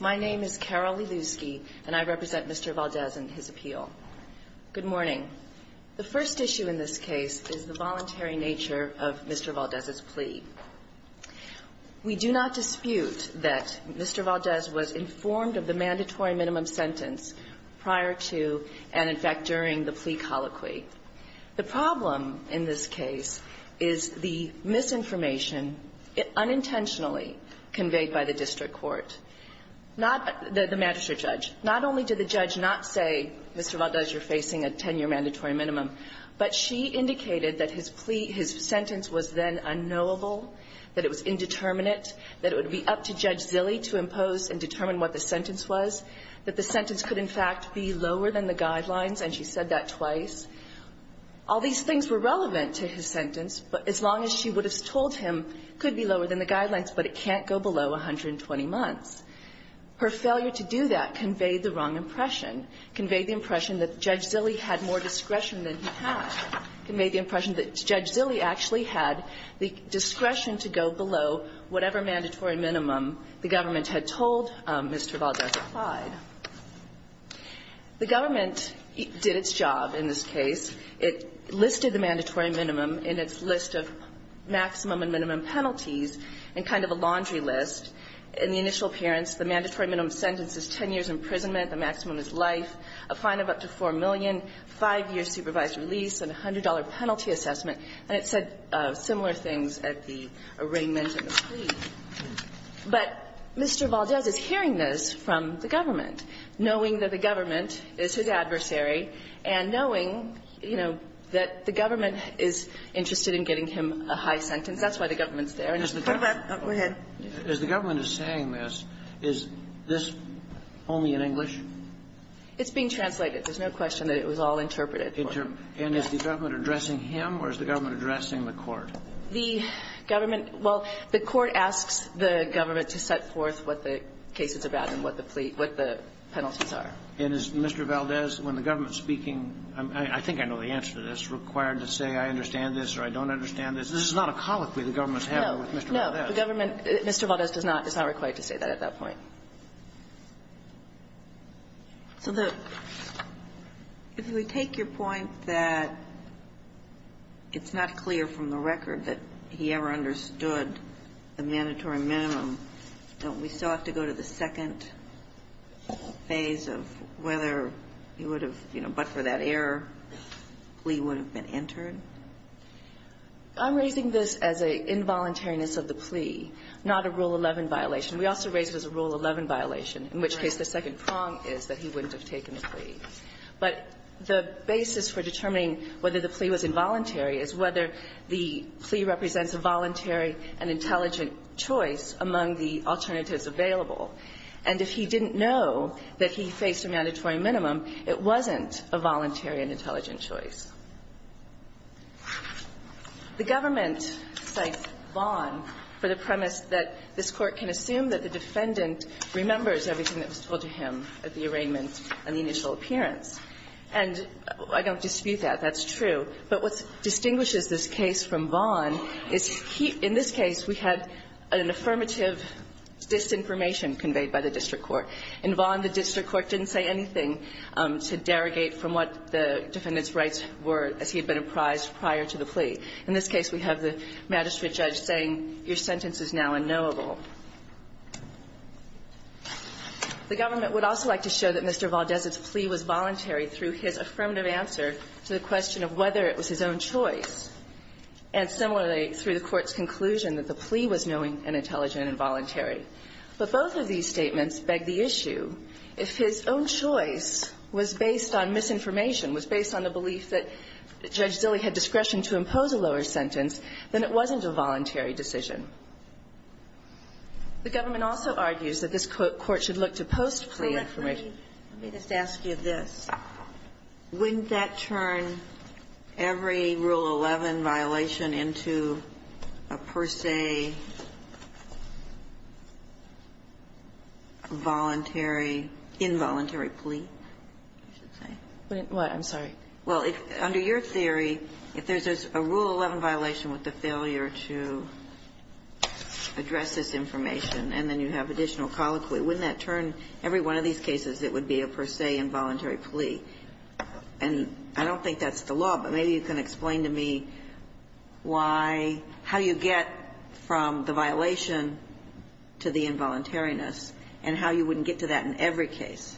My name is Carol Lelusky, and I represent Mr. Valdez and his appeal. Good morning. The first issue in this case is the voluntary nature of Mr. Valdez's plea. We do not dispute that Mr. Valdez was informed of the mandatory minimum sentence prior to, and in fact during, the plea colloquy. The problem in this case is the misinformation, unintentionally conveyed by the district court, not the magistrate judge. Not only did the judge not say, Mr. Valdez, you're facing a 10-year mandatory minimum, but she indicated that his plea, his sentence was then unknowable, that it was indeterminate, that it would be up to Judge Zille to impose and determine what the sentence was, that the sentence could, in fact, be lower than the guidelines, and she said that twice. All these things were relevant to his sentence, but as long as she would have told him, it could be lower than the guidelines, but it can't go below 120 months. Her failure to do that conveyed the wrong impression, conveyed the impression that Judge Zille had more discretion than he had, conveyed the impression that Judge Zille actually had the discretion to go below whatever mandatory minimum the government had told Mr. Valdez applied. The government did its job in this case. It listed the mandatory minimum in its list of maximum and minimum penalties in kind of a laundry list. In the initial appearance, the mandatory minimum sentence is 10 years' imprisonment, the maximum is life, a fine of up to $4 million, 5 years' supervised release, and a $100 penalty assessment. And it said similar things at the arraignment of the plea. But Mr. Valdez is hearing this from the government, knowing that the government is his adversary, and knowing, you know, that the government is interested in getting him a high sentence. That's why the government's there. And as the government is saying this, is this only in English? It's being translated. There's no question that it was all interpreted. And is the government addressing him or is the government addressing the court? The government – well, the court asks the government to set forth what the cases are about and what the penalties are. And is Mr. Valdez, when the government's speaking, I think I know the answer to this, required to say, I understand this or I don't understand this? This is not a colloquy the government's having with Mr. Valdez. No. The government – Mr. Valdez does not – is not required to say that at that point. So the – if we take your point that it's not clear from the record that he ever understood the mandatory minimum, don't we still have to go to the second phase of whether he would have, you know, but for that error, plea would have been entered? I'm raising this as an involuntariness of the plea, not a Rule 11 violation. We also raise it as a Rule 11 violation, in which case the second prong is that he wouldn't have taken the plea. But the basis for determining whether the plea was involuntary is whether the plea represents a voluntary and intelligent choice among the alternatives available. And if he didn't know that he faced a mandatory minimum, it wasn't a voluntary and intelligent choice. The government cites Vaughan for the premise that this Court can assume that the defendant remembers everything that was told to him at the arraignment and the initial appearance. And I don't dispute that. That's true. But what distinguishes this case from Vaughan is he – in this case, we had an affirmative disinformation conveyed by the district court. In Vaughan, the district court didn't say anything to derogate from what the defendant's rights were as he had been apprised prior to the plea. In this case, we have the magistrate judge saying, your sentence is now unknowable. The government would also like to show that Mr. Valdez's plea was voluntary through his affirmative answer to the question of whether it was his own choice. And similarly, through the Court's conclusion that the plea was knowing and intelligent and voluntary. But both of these statements beg the issue, if his own choice was based on misinformation, was based on the belief that Judge Dilley had discretion to impose a lower sentence, then it wasn't a voluntary decision. The government also argues that this Court should look to post-plea information. Sotomayor, let me just ask you this. Wouldn't that turn every Rule 11 violation into a per se voluntary, involuntary plea, you should say? I'm sorry. Well, under your theory, if there's a Rule 11 violation with the failure to address this information and then you have additional colloquy, wouldn't that turn every Rule 11 violation into a per se involuntary plea, and I don't think that's the law, but maybe you can explain to me why, how you get from the violation to the involuntariness and how you wouldn't get to that in every case.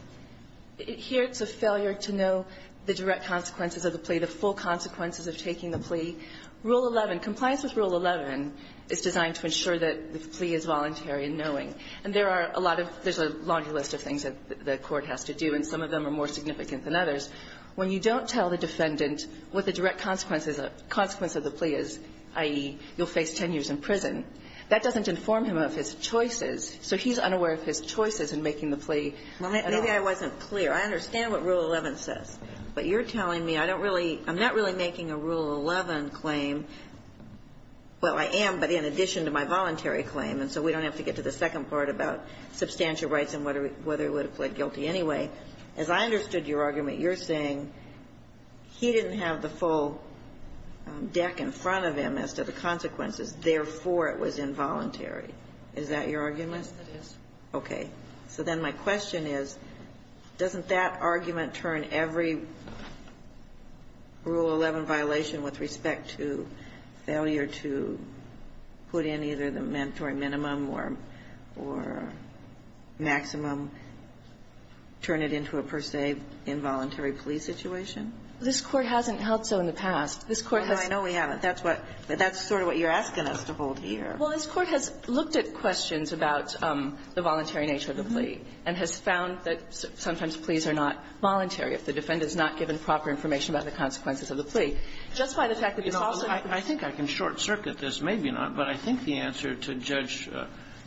Here it's a failure to know the direct consequences of the plea, the full consequences of taking the plea. Rule 11, compliance with Rule 11 is designed to ensure that the plea is voluntary and knowing, and there are a lot of – there's a long list of things that the Court has to do, and some of them are more significant than others. When you don't tell the defendant what the direct consequences of the plea is, i.e., you'll face 10 years in prison, that doesn't inform him of his choices, so he's unaware of his choices in making the plea. Maybe I wasn't clear. I understand what Rule 11 says, but you're telling me I don't really – I'm not really making a Rule 11 claim. Well, I am, but in addition to my voluntary claim, and so we don't have to get to the second part about substantial rights and whether he would have pled guilty anyway. As I understood your argument, you're saying he didn't have the full deck in front of him as to the consequences, therefore it was involuntary. Is that your argument? Yes, it is. Okay. So then my question is, doesn't that argument turn every Rule 11 violation with respect to failure to put in either the mandatory minimum or maximum, turn it into a per se involuntary plea situation? This Court hasn't held so in the past. This Court has – Well, I know we haven't. That's what – that's sort of what you're asking us to hold here. Well, this Court has looked at questions about the voluntary nature of the plea and has found that sometimes pleas are not voluntary if the defendant is not given proper information about the consequences of the plea. Just by the fact that this also happens to be the case of a voluntary plea, it's not a voluntary plea. I think I can short-circuit this, maybe not, but I think the answer to Judge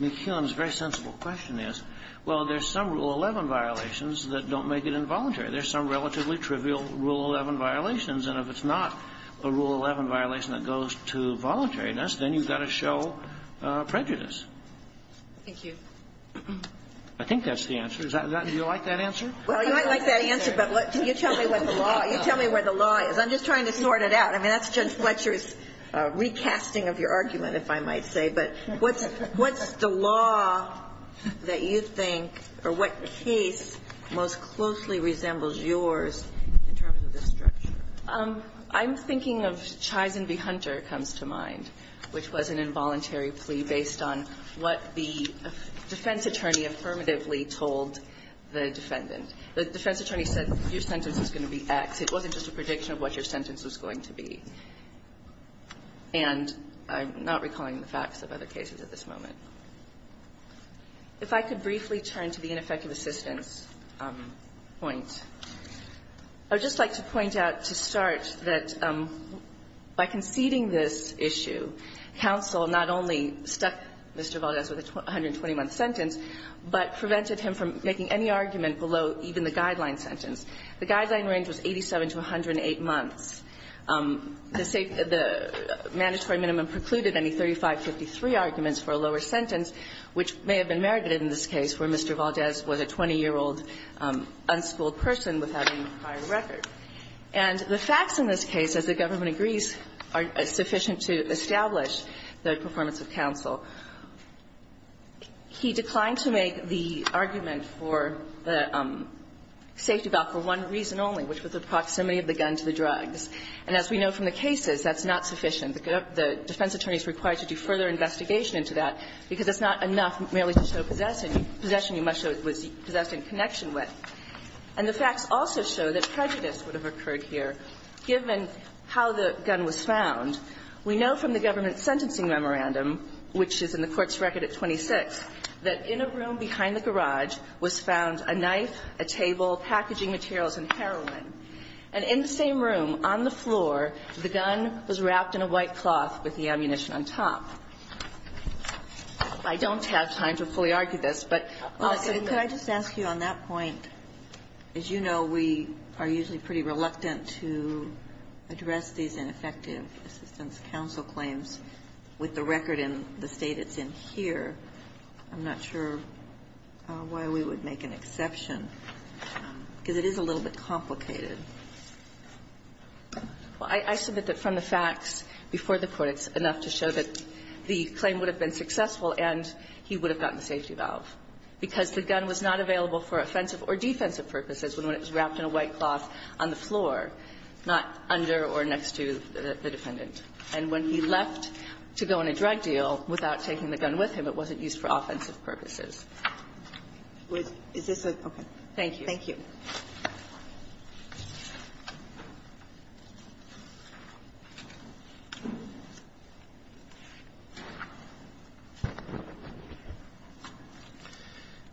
McKeon's very sensible question is, well, there's some Rule 11 violations that don't make it involuntary. There's some relatively trivial Rule 11 violations, and if it's not a Rule 11 violation that goes to voluntariness, then you've got to show prejudice. Thank you. I think that's the answer. Is that – do you like that answer? Well, you might like that answer, but can you tell me what the law – you tell me where the law is. I'm just trying to sort it out. I mean, that's Judge Fletcher's recasting of your argument, if I might say. But what's – what's the law that you think, or what case most closely resembles yours in terms of this structure? I'm thinking of Chai's and B. Hunter comes to mind, which was an involuntary plea based on what the defense attorney affirmatively told the defendant. The defense attorney said your sentence is going to be X. It wasn't just a prediction of what your sentence was going to be. And I'm not recalling the facts of other cases at this moment. If I could briefly turn to the ineffective assistance point, I would just like to point out to start that by conceding this issue, counsel not only stuck Mr. Valdez with a 121-sentence, but prevented him from making any argument below even the guideline sentence. The guideline range was 87 to 108 months. The mandatory minimum precluded any 3553 arguments for a lower sentence, which may have been merited in this case where Mr. Valdez was a 20-year-old unschooled person without any prior record. And the facts in this case, as the government agrees, are sufficient to establish the performance of counsel. He declined to make the argument for the safety valve for one reason only, which was the proximity of the gun to the drugs. And as we know from the cases, that's not sufficient. The defense attorney is required to do further investigation into that, because it's not enough merely to show possession. Possession, you must show it was possessed in connection with. And the facts also show that prejudice would have occurred here, given how the gun was found. We know from the government sentencing memorandum, which is in the Court's record at 26, that in a room behind the garage was found a knife, a table, packaging materials, and heroin. And in the same room, on the floor, the gun was wrapped in a white cloth with the ammunition on top. I don't have time to fully argue this, but I'll say that. Kagan, could I just ask you, on that point, as you know, we are usually pretty reluctant to address these ineffective assistance counsel claims with the record in the State it's in here. I'm not sure why we would make an exception, because it is a little bit complicated. Well, I submit that from the facts before the Court, it's enough to show that the claim would have been successful and he would have gotten the safety valve, because the gun was not available for offensive or defensive purposes when it was wrapped in a white cloth on the floor, not under or next to the defendant. And when he left to go on a drug deal without taking the gun with him, it wasn't used for offensive purposes. Thank you. Thank you.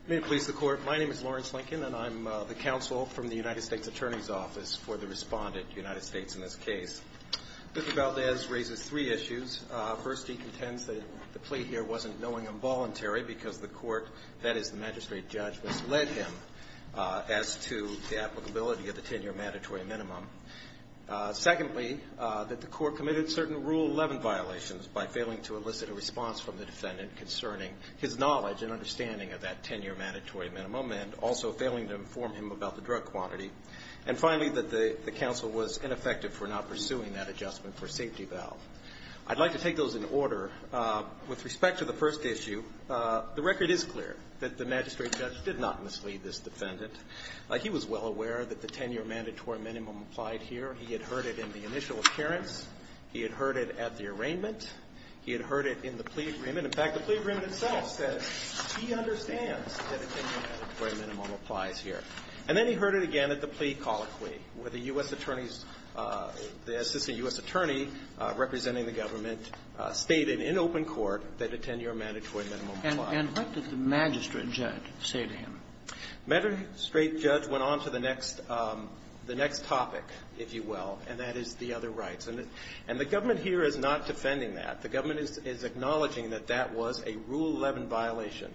May it please the Court. My name is Lawrence Lincoln, and I'm the counsel from the United States Attorney's Office for the respondent, United States in this case. Mr. Valdez raises three issues. First, he contends that the plea here wasn't knowing involuntary, because the Court, that to the applicability of the 10-year mandatory minimum. Secondly, that the Court committed certain Rule 11 violations by failing to elicit a response from the defendant concerning his knowledge and understanding of that 10-year mandatory minimum, and also failing to inform him about the drug quantity. And finally, that the counsel was ineffective for not pursuing that adjustment for a safety valve. I'd like to take those in order. With respect to the first issue, the record is clear that the magistrate judge did not mislead this defendant. He was well aware that the 10-year mandatory minimum applied here. He had heard it in the initial appearance. He had heard it at the arraignment. He had heard it in the plea agreement. In fact, the plea agreement itself says he understands that a 10-year mandatory minimum applies here. And then he heard it again at the plea colloquy, where the U.S. attorney's the assistant U.S. attorney representing the government stated in open court that a 10-year mandatory minimum applied. And what did the magistrate judge say to him? The magistrate judge went on to the next topic, if you will, and that is the other rights. And the government here is not defending that. The government is acknowledging that that was a Rule 11 violation.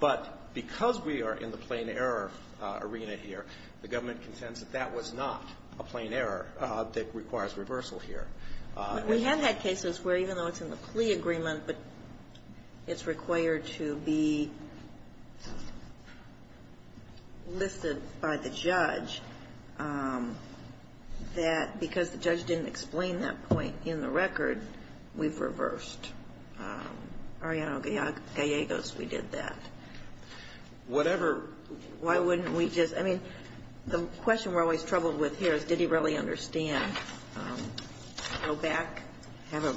But because we are in the plain error arena here, the government contends that that was not a plain error that requires reversal here. We have had cases where even though it's in the plea agreement, but it's required to be listed by the judge, that because the judge didn't explain that point in the record, we've reversed. Ariano Gallegos, we did that. Whatever. Why wouldn't we just? I mean, the question we're always troubled with here is, did he really understand? Go back, have a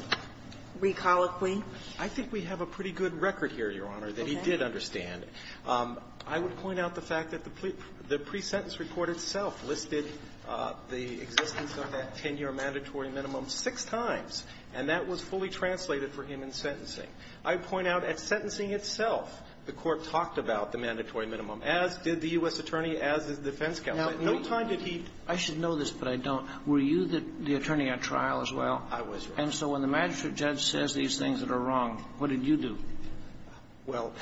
plea colloquy? I think we have a pretty good record here, Your Honor, that he did understand. I would point out the fact that the pre-sentence report itself listed the existence of that 10-year mandatory minimum six times. And that was fully translated for him in sentencing. I point out at sentencing itself, the court talked about the mandatory minimum, as did the U.S. attorney, as did the defense counsel. At no time did he. I should know this, but I don't. Were you the attorney at trial as well? I was, Your Honor. And so when the magistrate judge says these things that are wrong, what did you do? Well,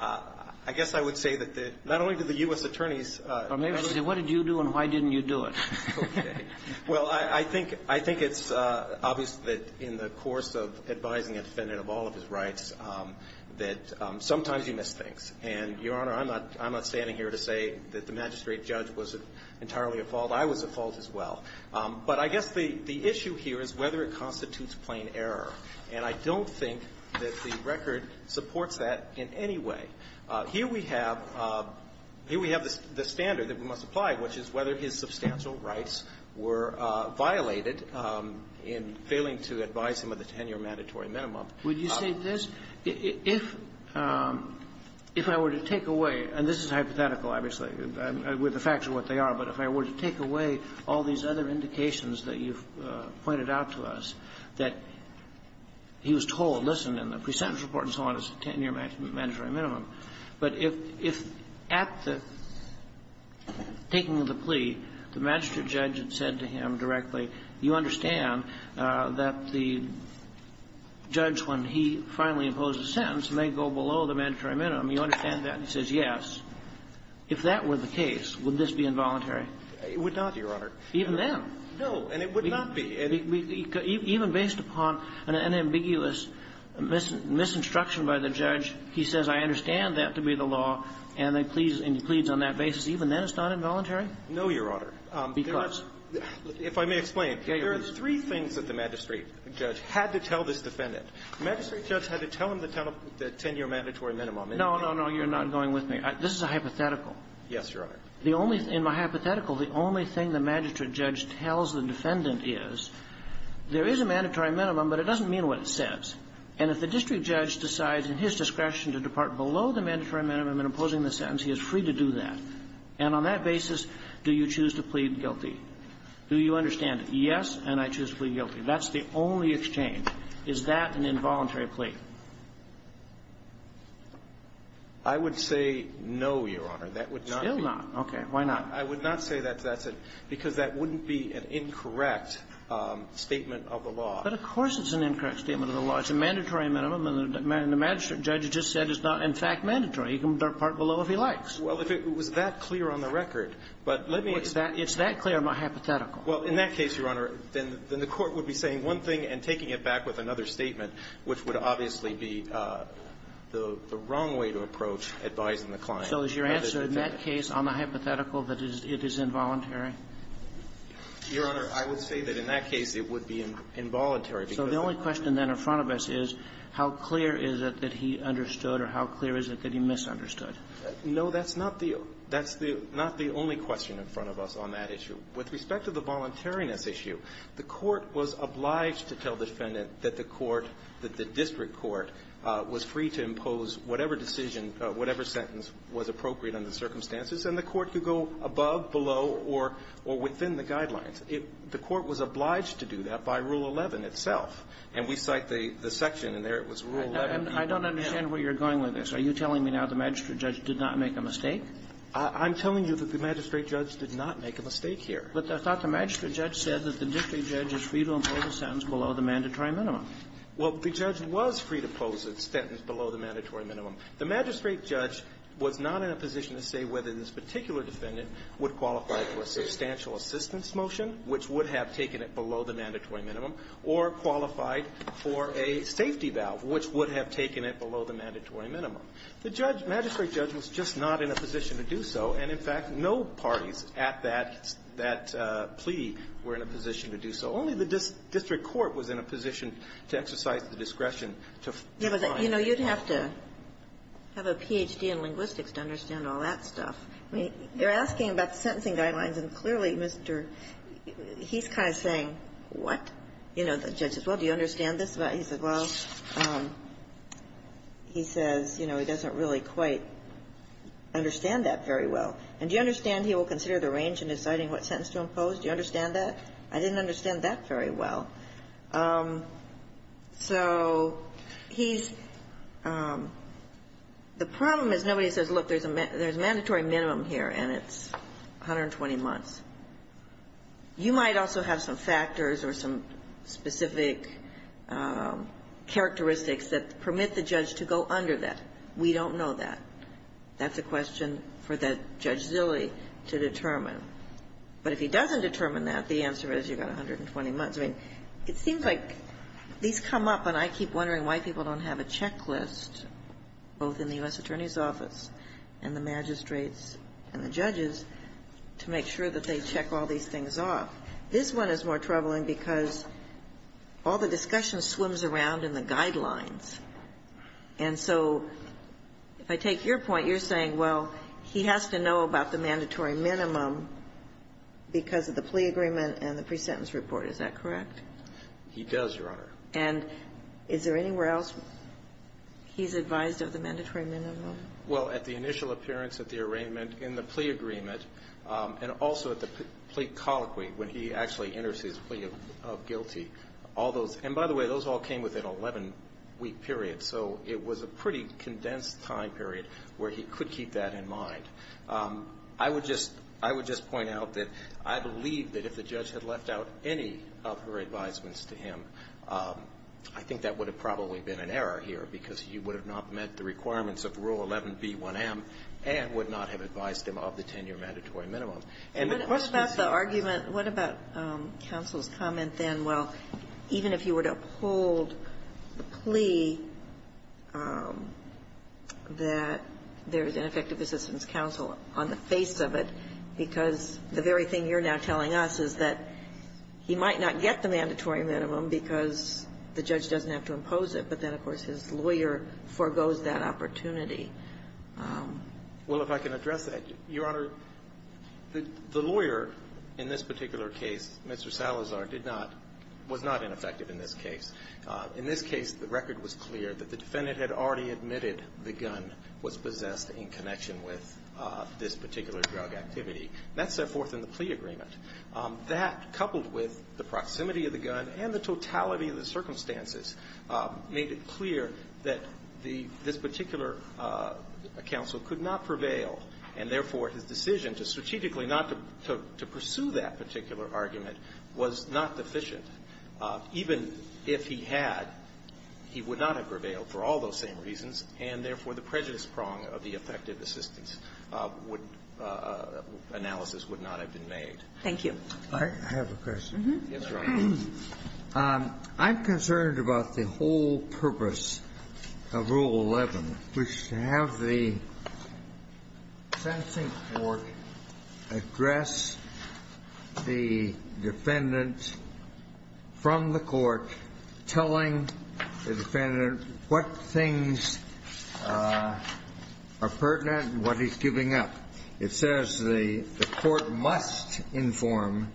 I guess I would say that the, not only did the U.S. attorneys. Or maybe I should say, what did you do and why didn't you do it? Okay. Well, I, I think, I think it's obvious that in the course of advising a defendant of all of his rights, that sometimes you miss things. And, Your Honor, I'm not, I'm not standing here to say that the magistrate judge was entirely at fault. I was at fault as well. But I guess the, the issue here is whether it constitutes plain error. And I don't think that the record supports that in any way. Here we have, here we have the standard that we must apply, which is whether his substantial rights were violated in failing to advise him of the 10-year mandatory minimum. Would you say this? If, if I were to take away, and this is hypothetical, obviously, with the facts are what they are, but if I were to take away all these other indications that you've pointed out to us, that he was told, listen, in the pre-sentence report and so on, it's a 10-year mandatory minimum, but if, if at the taking of the plea, the magistrate judge had said to him directly, you understand that the judge, when he finally imposed a sentence, may go below the mandatory minimum, you understand that? And he says, yes. If that were the case, would this be involuntary? It would not, Your Honor. Even then? No. And it would not be. And even based upon an ambiguous misinstruction by the judge, he says, I understand that to be the law, and he pleads on that basis. Even then it's not involuntary? No, Your Honor. Because? If I may explain. There are three things that the magistrate judge had to tell this defendant. The magistrate judge had to tell him the 10-year mandatory minimum. No, no, no. You're not going with me. This is a hypothetical. Yes, Your Honor. The only thing, in my hypothetical, the only thing the magistrate judge tells the defendant is, there is a mandatory minimum, but it doesn't mean what it says. And if the district judge decides in his discretion to depart below the mandatory minimum in imposing the sentence, he is free to do that. And on that basis, do you choose to plead guilty? Do you understand it? Yes, and I choose to plead guilty. That's the only exchange. Is that an involuntary plea? I would say no, Your Honor. That would not be the case. Still not? Okay. Why not? I would not say that's it, because that wouldn't be an incorrect statement of the law. But of course it's an incorrect statement of the law. It's a mandatory minimum, and the magistrate judge just said it's not, in fact, mandatory. He can depart below if he likes. Well, if it was that clear on the record, but let me explain. It's that clear in my hypothetical. Well, in that case, Your Honor, then the Court would be saying one thing and taking it back with another statement, which would obviously be the wrong way to approach advising the client. So is your answer in that case on the hypothetical that it is involuntary? Your Honor, I would say that in that case it would be involuntary, because So the only question then in front of us is how clear is it that he understood or how clear is it that he misunderstood? No, that's not the only question in front of us on that issue. With respect to the voluntariness issue, the Court was obliged to tell the defendant that the Court, that the district court was free to impose whatever decision, whatever sentence was appropriate under the circumstances, and the Court could go above, below, or within the guidelines. The Court was obliged to do that by Rule 11 itself. And we cite the section in there, it was Rule 11. I don't understand where you're going with this. Are you telling me now the magistrate judge did not make a mistake? I'm telling you that the magistrate judge did not make a mistake here. But I thought the magistrate judge said that the district judge is free to impose a sentence below the mandatory minimum. Well, the judge was free to impose a sentence below the mandatory minimum. The magistrate judge was not in a position to say whether this particular defendant would qualify for a substantial assistance motion, which would have taken it below the mandatory minimum, or qualified for a safety valve, which would have taken it below the mandatory minimum. The judge, magistrate judge, was just not in a position to do so. And, in fact, no parties at that, that plea were in a position to do so. Only the district court was in a position to exercise the discretion to find out. You know, you'd have to have a Ph.D. in linguistics to understand all that stuff. I mean, you're asking about the sentencing guidelines, and clearly, Mr. He's kind of saying, what? You know, the judge says, well, do you understand this? He says, well, he says, you know, he doesn't really quite understand that very well. And do you understand he will consider the range in deciding what sentence to impose? Do you understand that? I didn't understand that very well. So he's the problem is nobody says, look, there's a mandatory minimum here, and it's 120 months. You might also have some factors or some specific characteristics that permit the judge to go under that. We don't know that. That's a question for that Judge Zilli to determine. But if he doesn't determine that, the answer is you've got 120 months. I mean, it seems like these come up, and I keep wondering why people don't have a checklist, both in the U.S. Attorney's Office and the magistrates and the judges, to make sure that they check all these things off. This one is more troubling because all the discussion swims around in the guidelines. And so if I take your point, you're saying, well, he has to know about the mandatory minimum because of the plea agreement and the pre-sentence report. Is that correct? He does, Your Honor. And is there anywhere else he's advised of the mandatory minimum? Well, at the initial appearance, at the arraignment, in the plea agreement, and also at the plea colloquy, when he actually enters his plea of guilty, all those, and by the way, those all came within an 11-week period. So it was a pretty condensed time period where he could keep that in mind. I would just point out that I believe that if the judge had left out any of her advisements to him, I think that would have probably been an error here because he would have not met the requirements of Rule 11b1m and would not have advised him of the 10-year mandatory minimum. And the question is the argument What about counsel's comment then, well, even if you were to uphold the plea that there is an effective assistance counsel on the face of it, because the very thing you're now telling us is that he might not get the mandatory minimum because the judge doesn't have to impose it, but then, of course, his lawyer forgoes that opportunity. Well, if I can address that, Your Honor, the lawyer in this particular case, Mr. Salazar, did not, was not ineffective in this case. In this case, the record was clear that the defendant had already admitted the gun was possessed in connection with this particular drug activity. That set forth in the plea agreement. That, coupled with the proximity of the gun and the totality of the circumstances, made it clear that the, this particular counsel could not prevail, and, therefore, his decision to strategically not to pursue that particular argument was not deficient. Even if he had, he would not have prevailed for all those same reasons, and, therefore, the prejudice prong of the effective assistance would, analysis would not have been made. Thank you. I have a question. Yes, Your Honor. I'm concerned about the whole purpose of Rule 11, which is to have the sentencing court address the defendant from the court, telling the defendant what things are pertinent and what he's giving up. It says the court must inform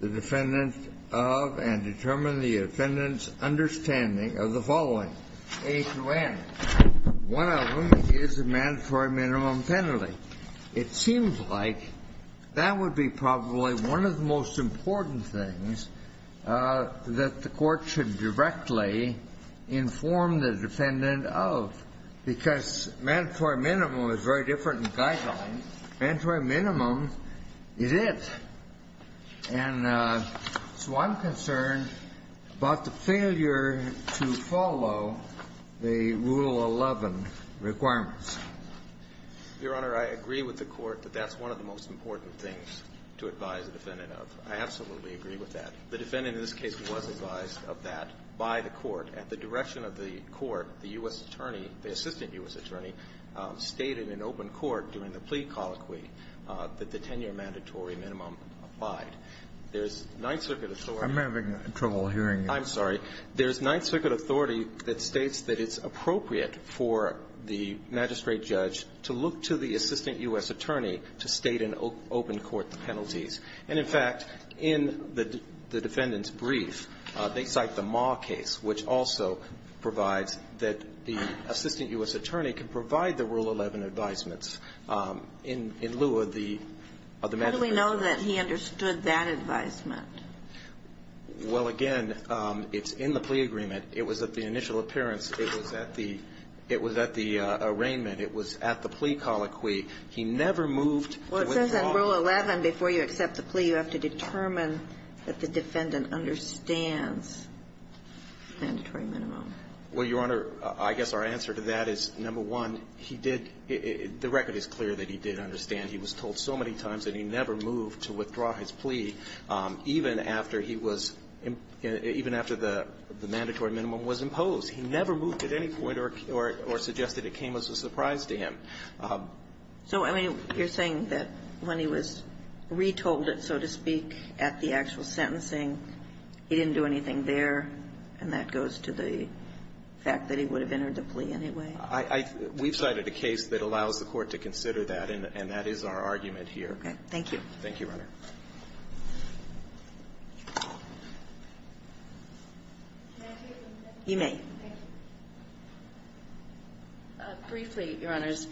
the defendant of and determine the defendant's understanding of the following, A to N. One of them is a mandatory minimum penalty. It seems like that would be probably one of the most important things that the court should directly inform the defendant of, because mandatory minimum is very different from guideline. Mandatory minimum is it. And so I'm concerned about the failure to follow the Rule 11 requirements. Your Honor, I agree with the Court that that's one of the most important things to advise the defendant of. I absolutely agree with that. The defendant in this case was advised of that by the Court. At the direction of the Court, the U.S. Attorney, the Assistant U.S. Attorney, stated in open court during the plea colloquy that the 10-year mandatory minimum applied. There's Ninth Circuit authority to look to the Assistant U.S. Attorney to state in open court the penalties, and, in fact, in the defendant's brief, they cite the Ma case, which also provides that the Assistant U.S. Attorney can provide the penalties to the Assistant U.S. Attorney. And so I'm concerned about the failure of the court to provide the Rule 11 advisements in lieu of the mandatory minimum. How do we know that he understood that advisement? Well, again, it's in the plea agreement. It was at the initial appearance. It was at the arraignment. It was at the plea colloquy. He never moved to withdraw. Well, it says in Rule 11, before you accept the plea, you have to determine that the defendant understands the mandatory minimum. Well, Your Honor, I guess our answer to that is, number one, he did – the record is clear that he did understand. He was told so many times that he never moved to withdraw his plea, even after he was – even after the mandatory minimum was imposed. He never moved at any point or suggested it came as a surprise to him. So, I mean, you're saying that when he was retold it, so to speak, at the end of the actual sentencing, he didn't do anything there, and that goes to the fact that he would have entered the plea anyway? I – we've cited a case that allows the Court to consider that, and that is our argument here. Okay. Thank you. Thank you, Your Honor. Can I take one second? You may. Briefly, Your Honors,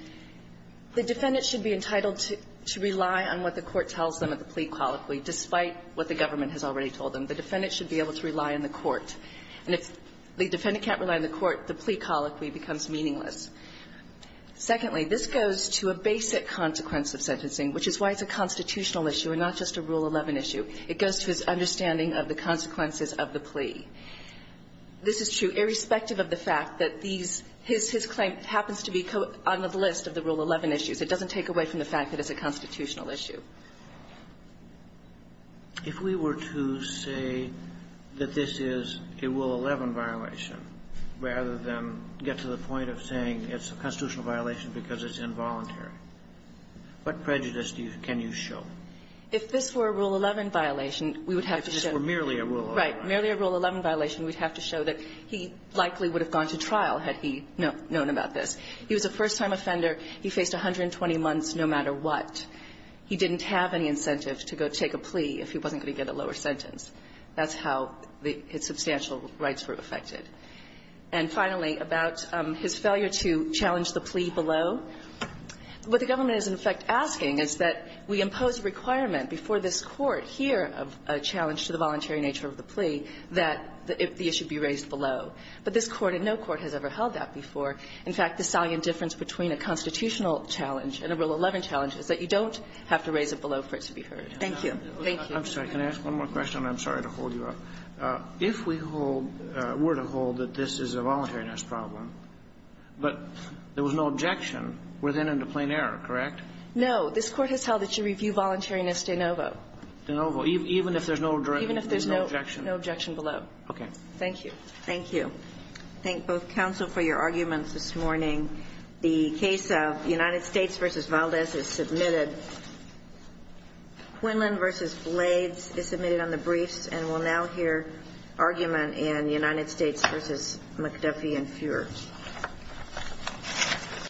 the defendant should be entitled to – to rely on what the government has already told them. The defendant should be able to rely on the Court. And if the defendant can't rely on the Court, the plea colloquy becomes meaningless. Secondly, this goes to a basic consequence of sentencing, which is why it's a constitutional issue and not just a Rule 11 issue. It goes to his understanding of the consequences of the plea. This is true irrespective of the fact that these – his claim happens to be on the list of the Rule 11 issues. It doesn't take away from the fact that it's a constitutional issue. If we were to say that this is a Rule 11 violation, rather than get to the point of saying it's a constitutional violation because it's involuntary, what prejudice do you – can you show? If this were a Rule 11 violation, we would have to show – If this were merely a Rule 11 violation. Right. Merely a Rule 11 violation, we'd have to show that he likely would have gone to trial had he known about this. He was a first-time offender. He faced 120 months no matter what. He didn't have any incentive to go take a plea if he wasn't going to get a lower sentence. That's how his substantial rights were affected. And finally, about his failure to challenge the plea below, what the government is, in effect, asking is that we impose a requirement before this Court here of a challenge to the voluntary nature of the plea that the issue be raised below. But this Court and no court has ever held that before. In fact, the salient difference between a constitutional challenge and a Rule 11 challenge is that you don't have to raise it below for it to be heard. Thank you. Thank you. I'm sorry. Can I ask one more question? I'm sorry to hold you up. If we hold – were to hold that this is a voluntariness problem, but there was no objection, we're then into plain error, correct? No. This Court has held that you review voluntariness de novo. De novo, even if there's no objection. Even if there's no objection below. Okay. Thank you. Thank you. Thank both counsel for your arguments this morning. The case of United States v. Valdez is submitted. Quinlan v. Blades is submitted on the briefs and will now hear argument in United States v. McDuffie and Fuhrer.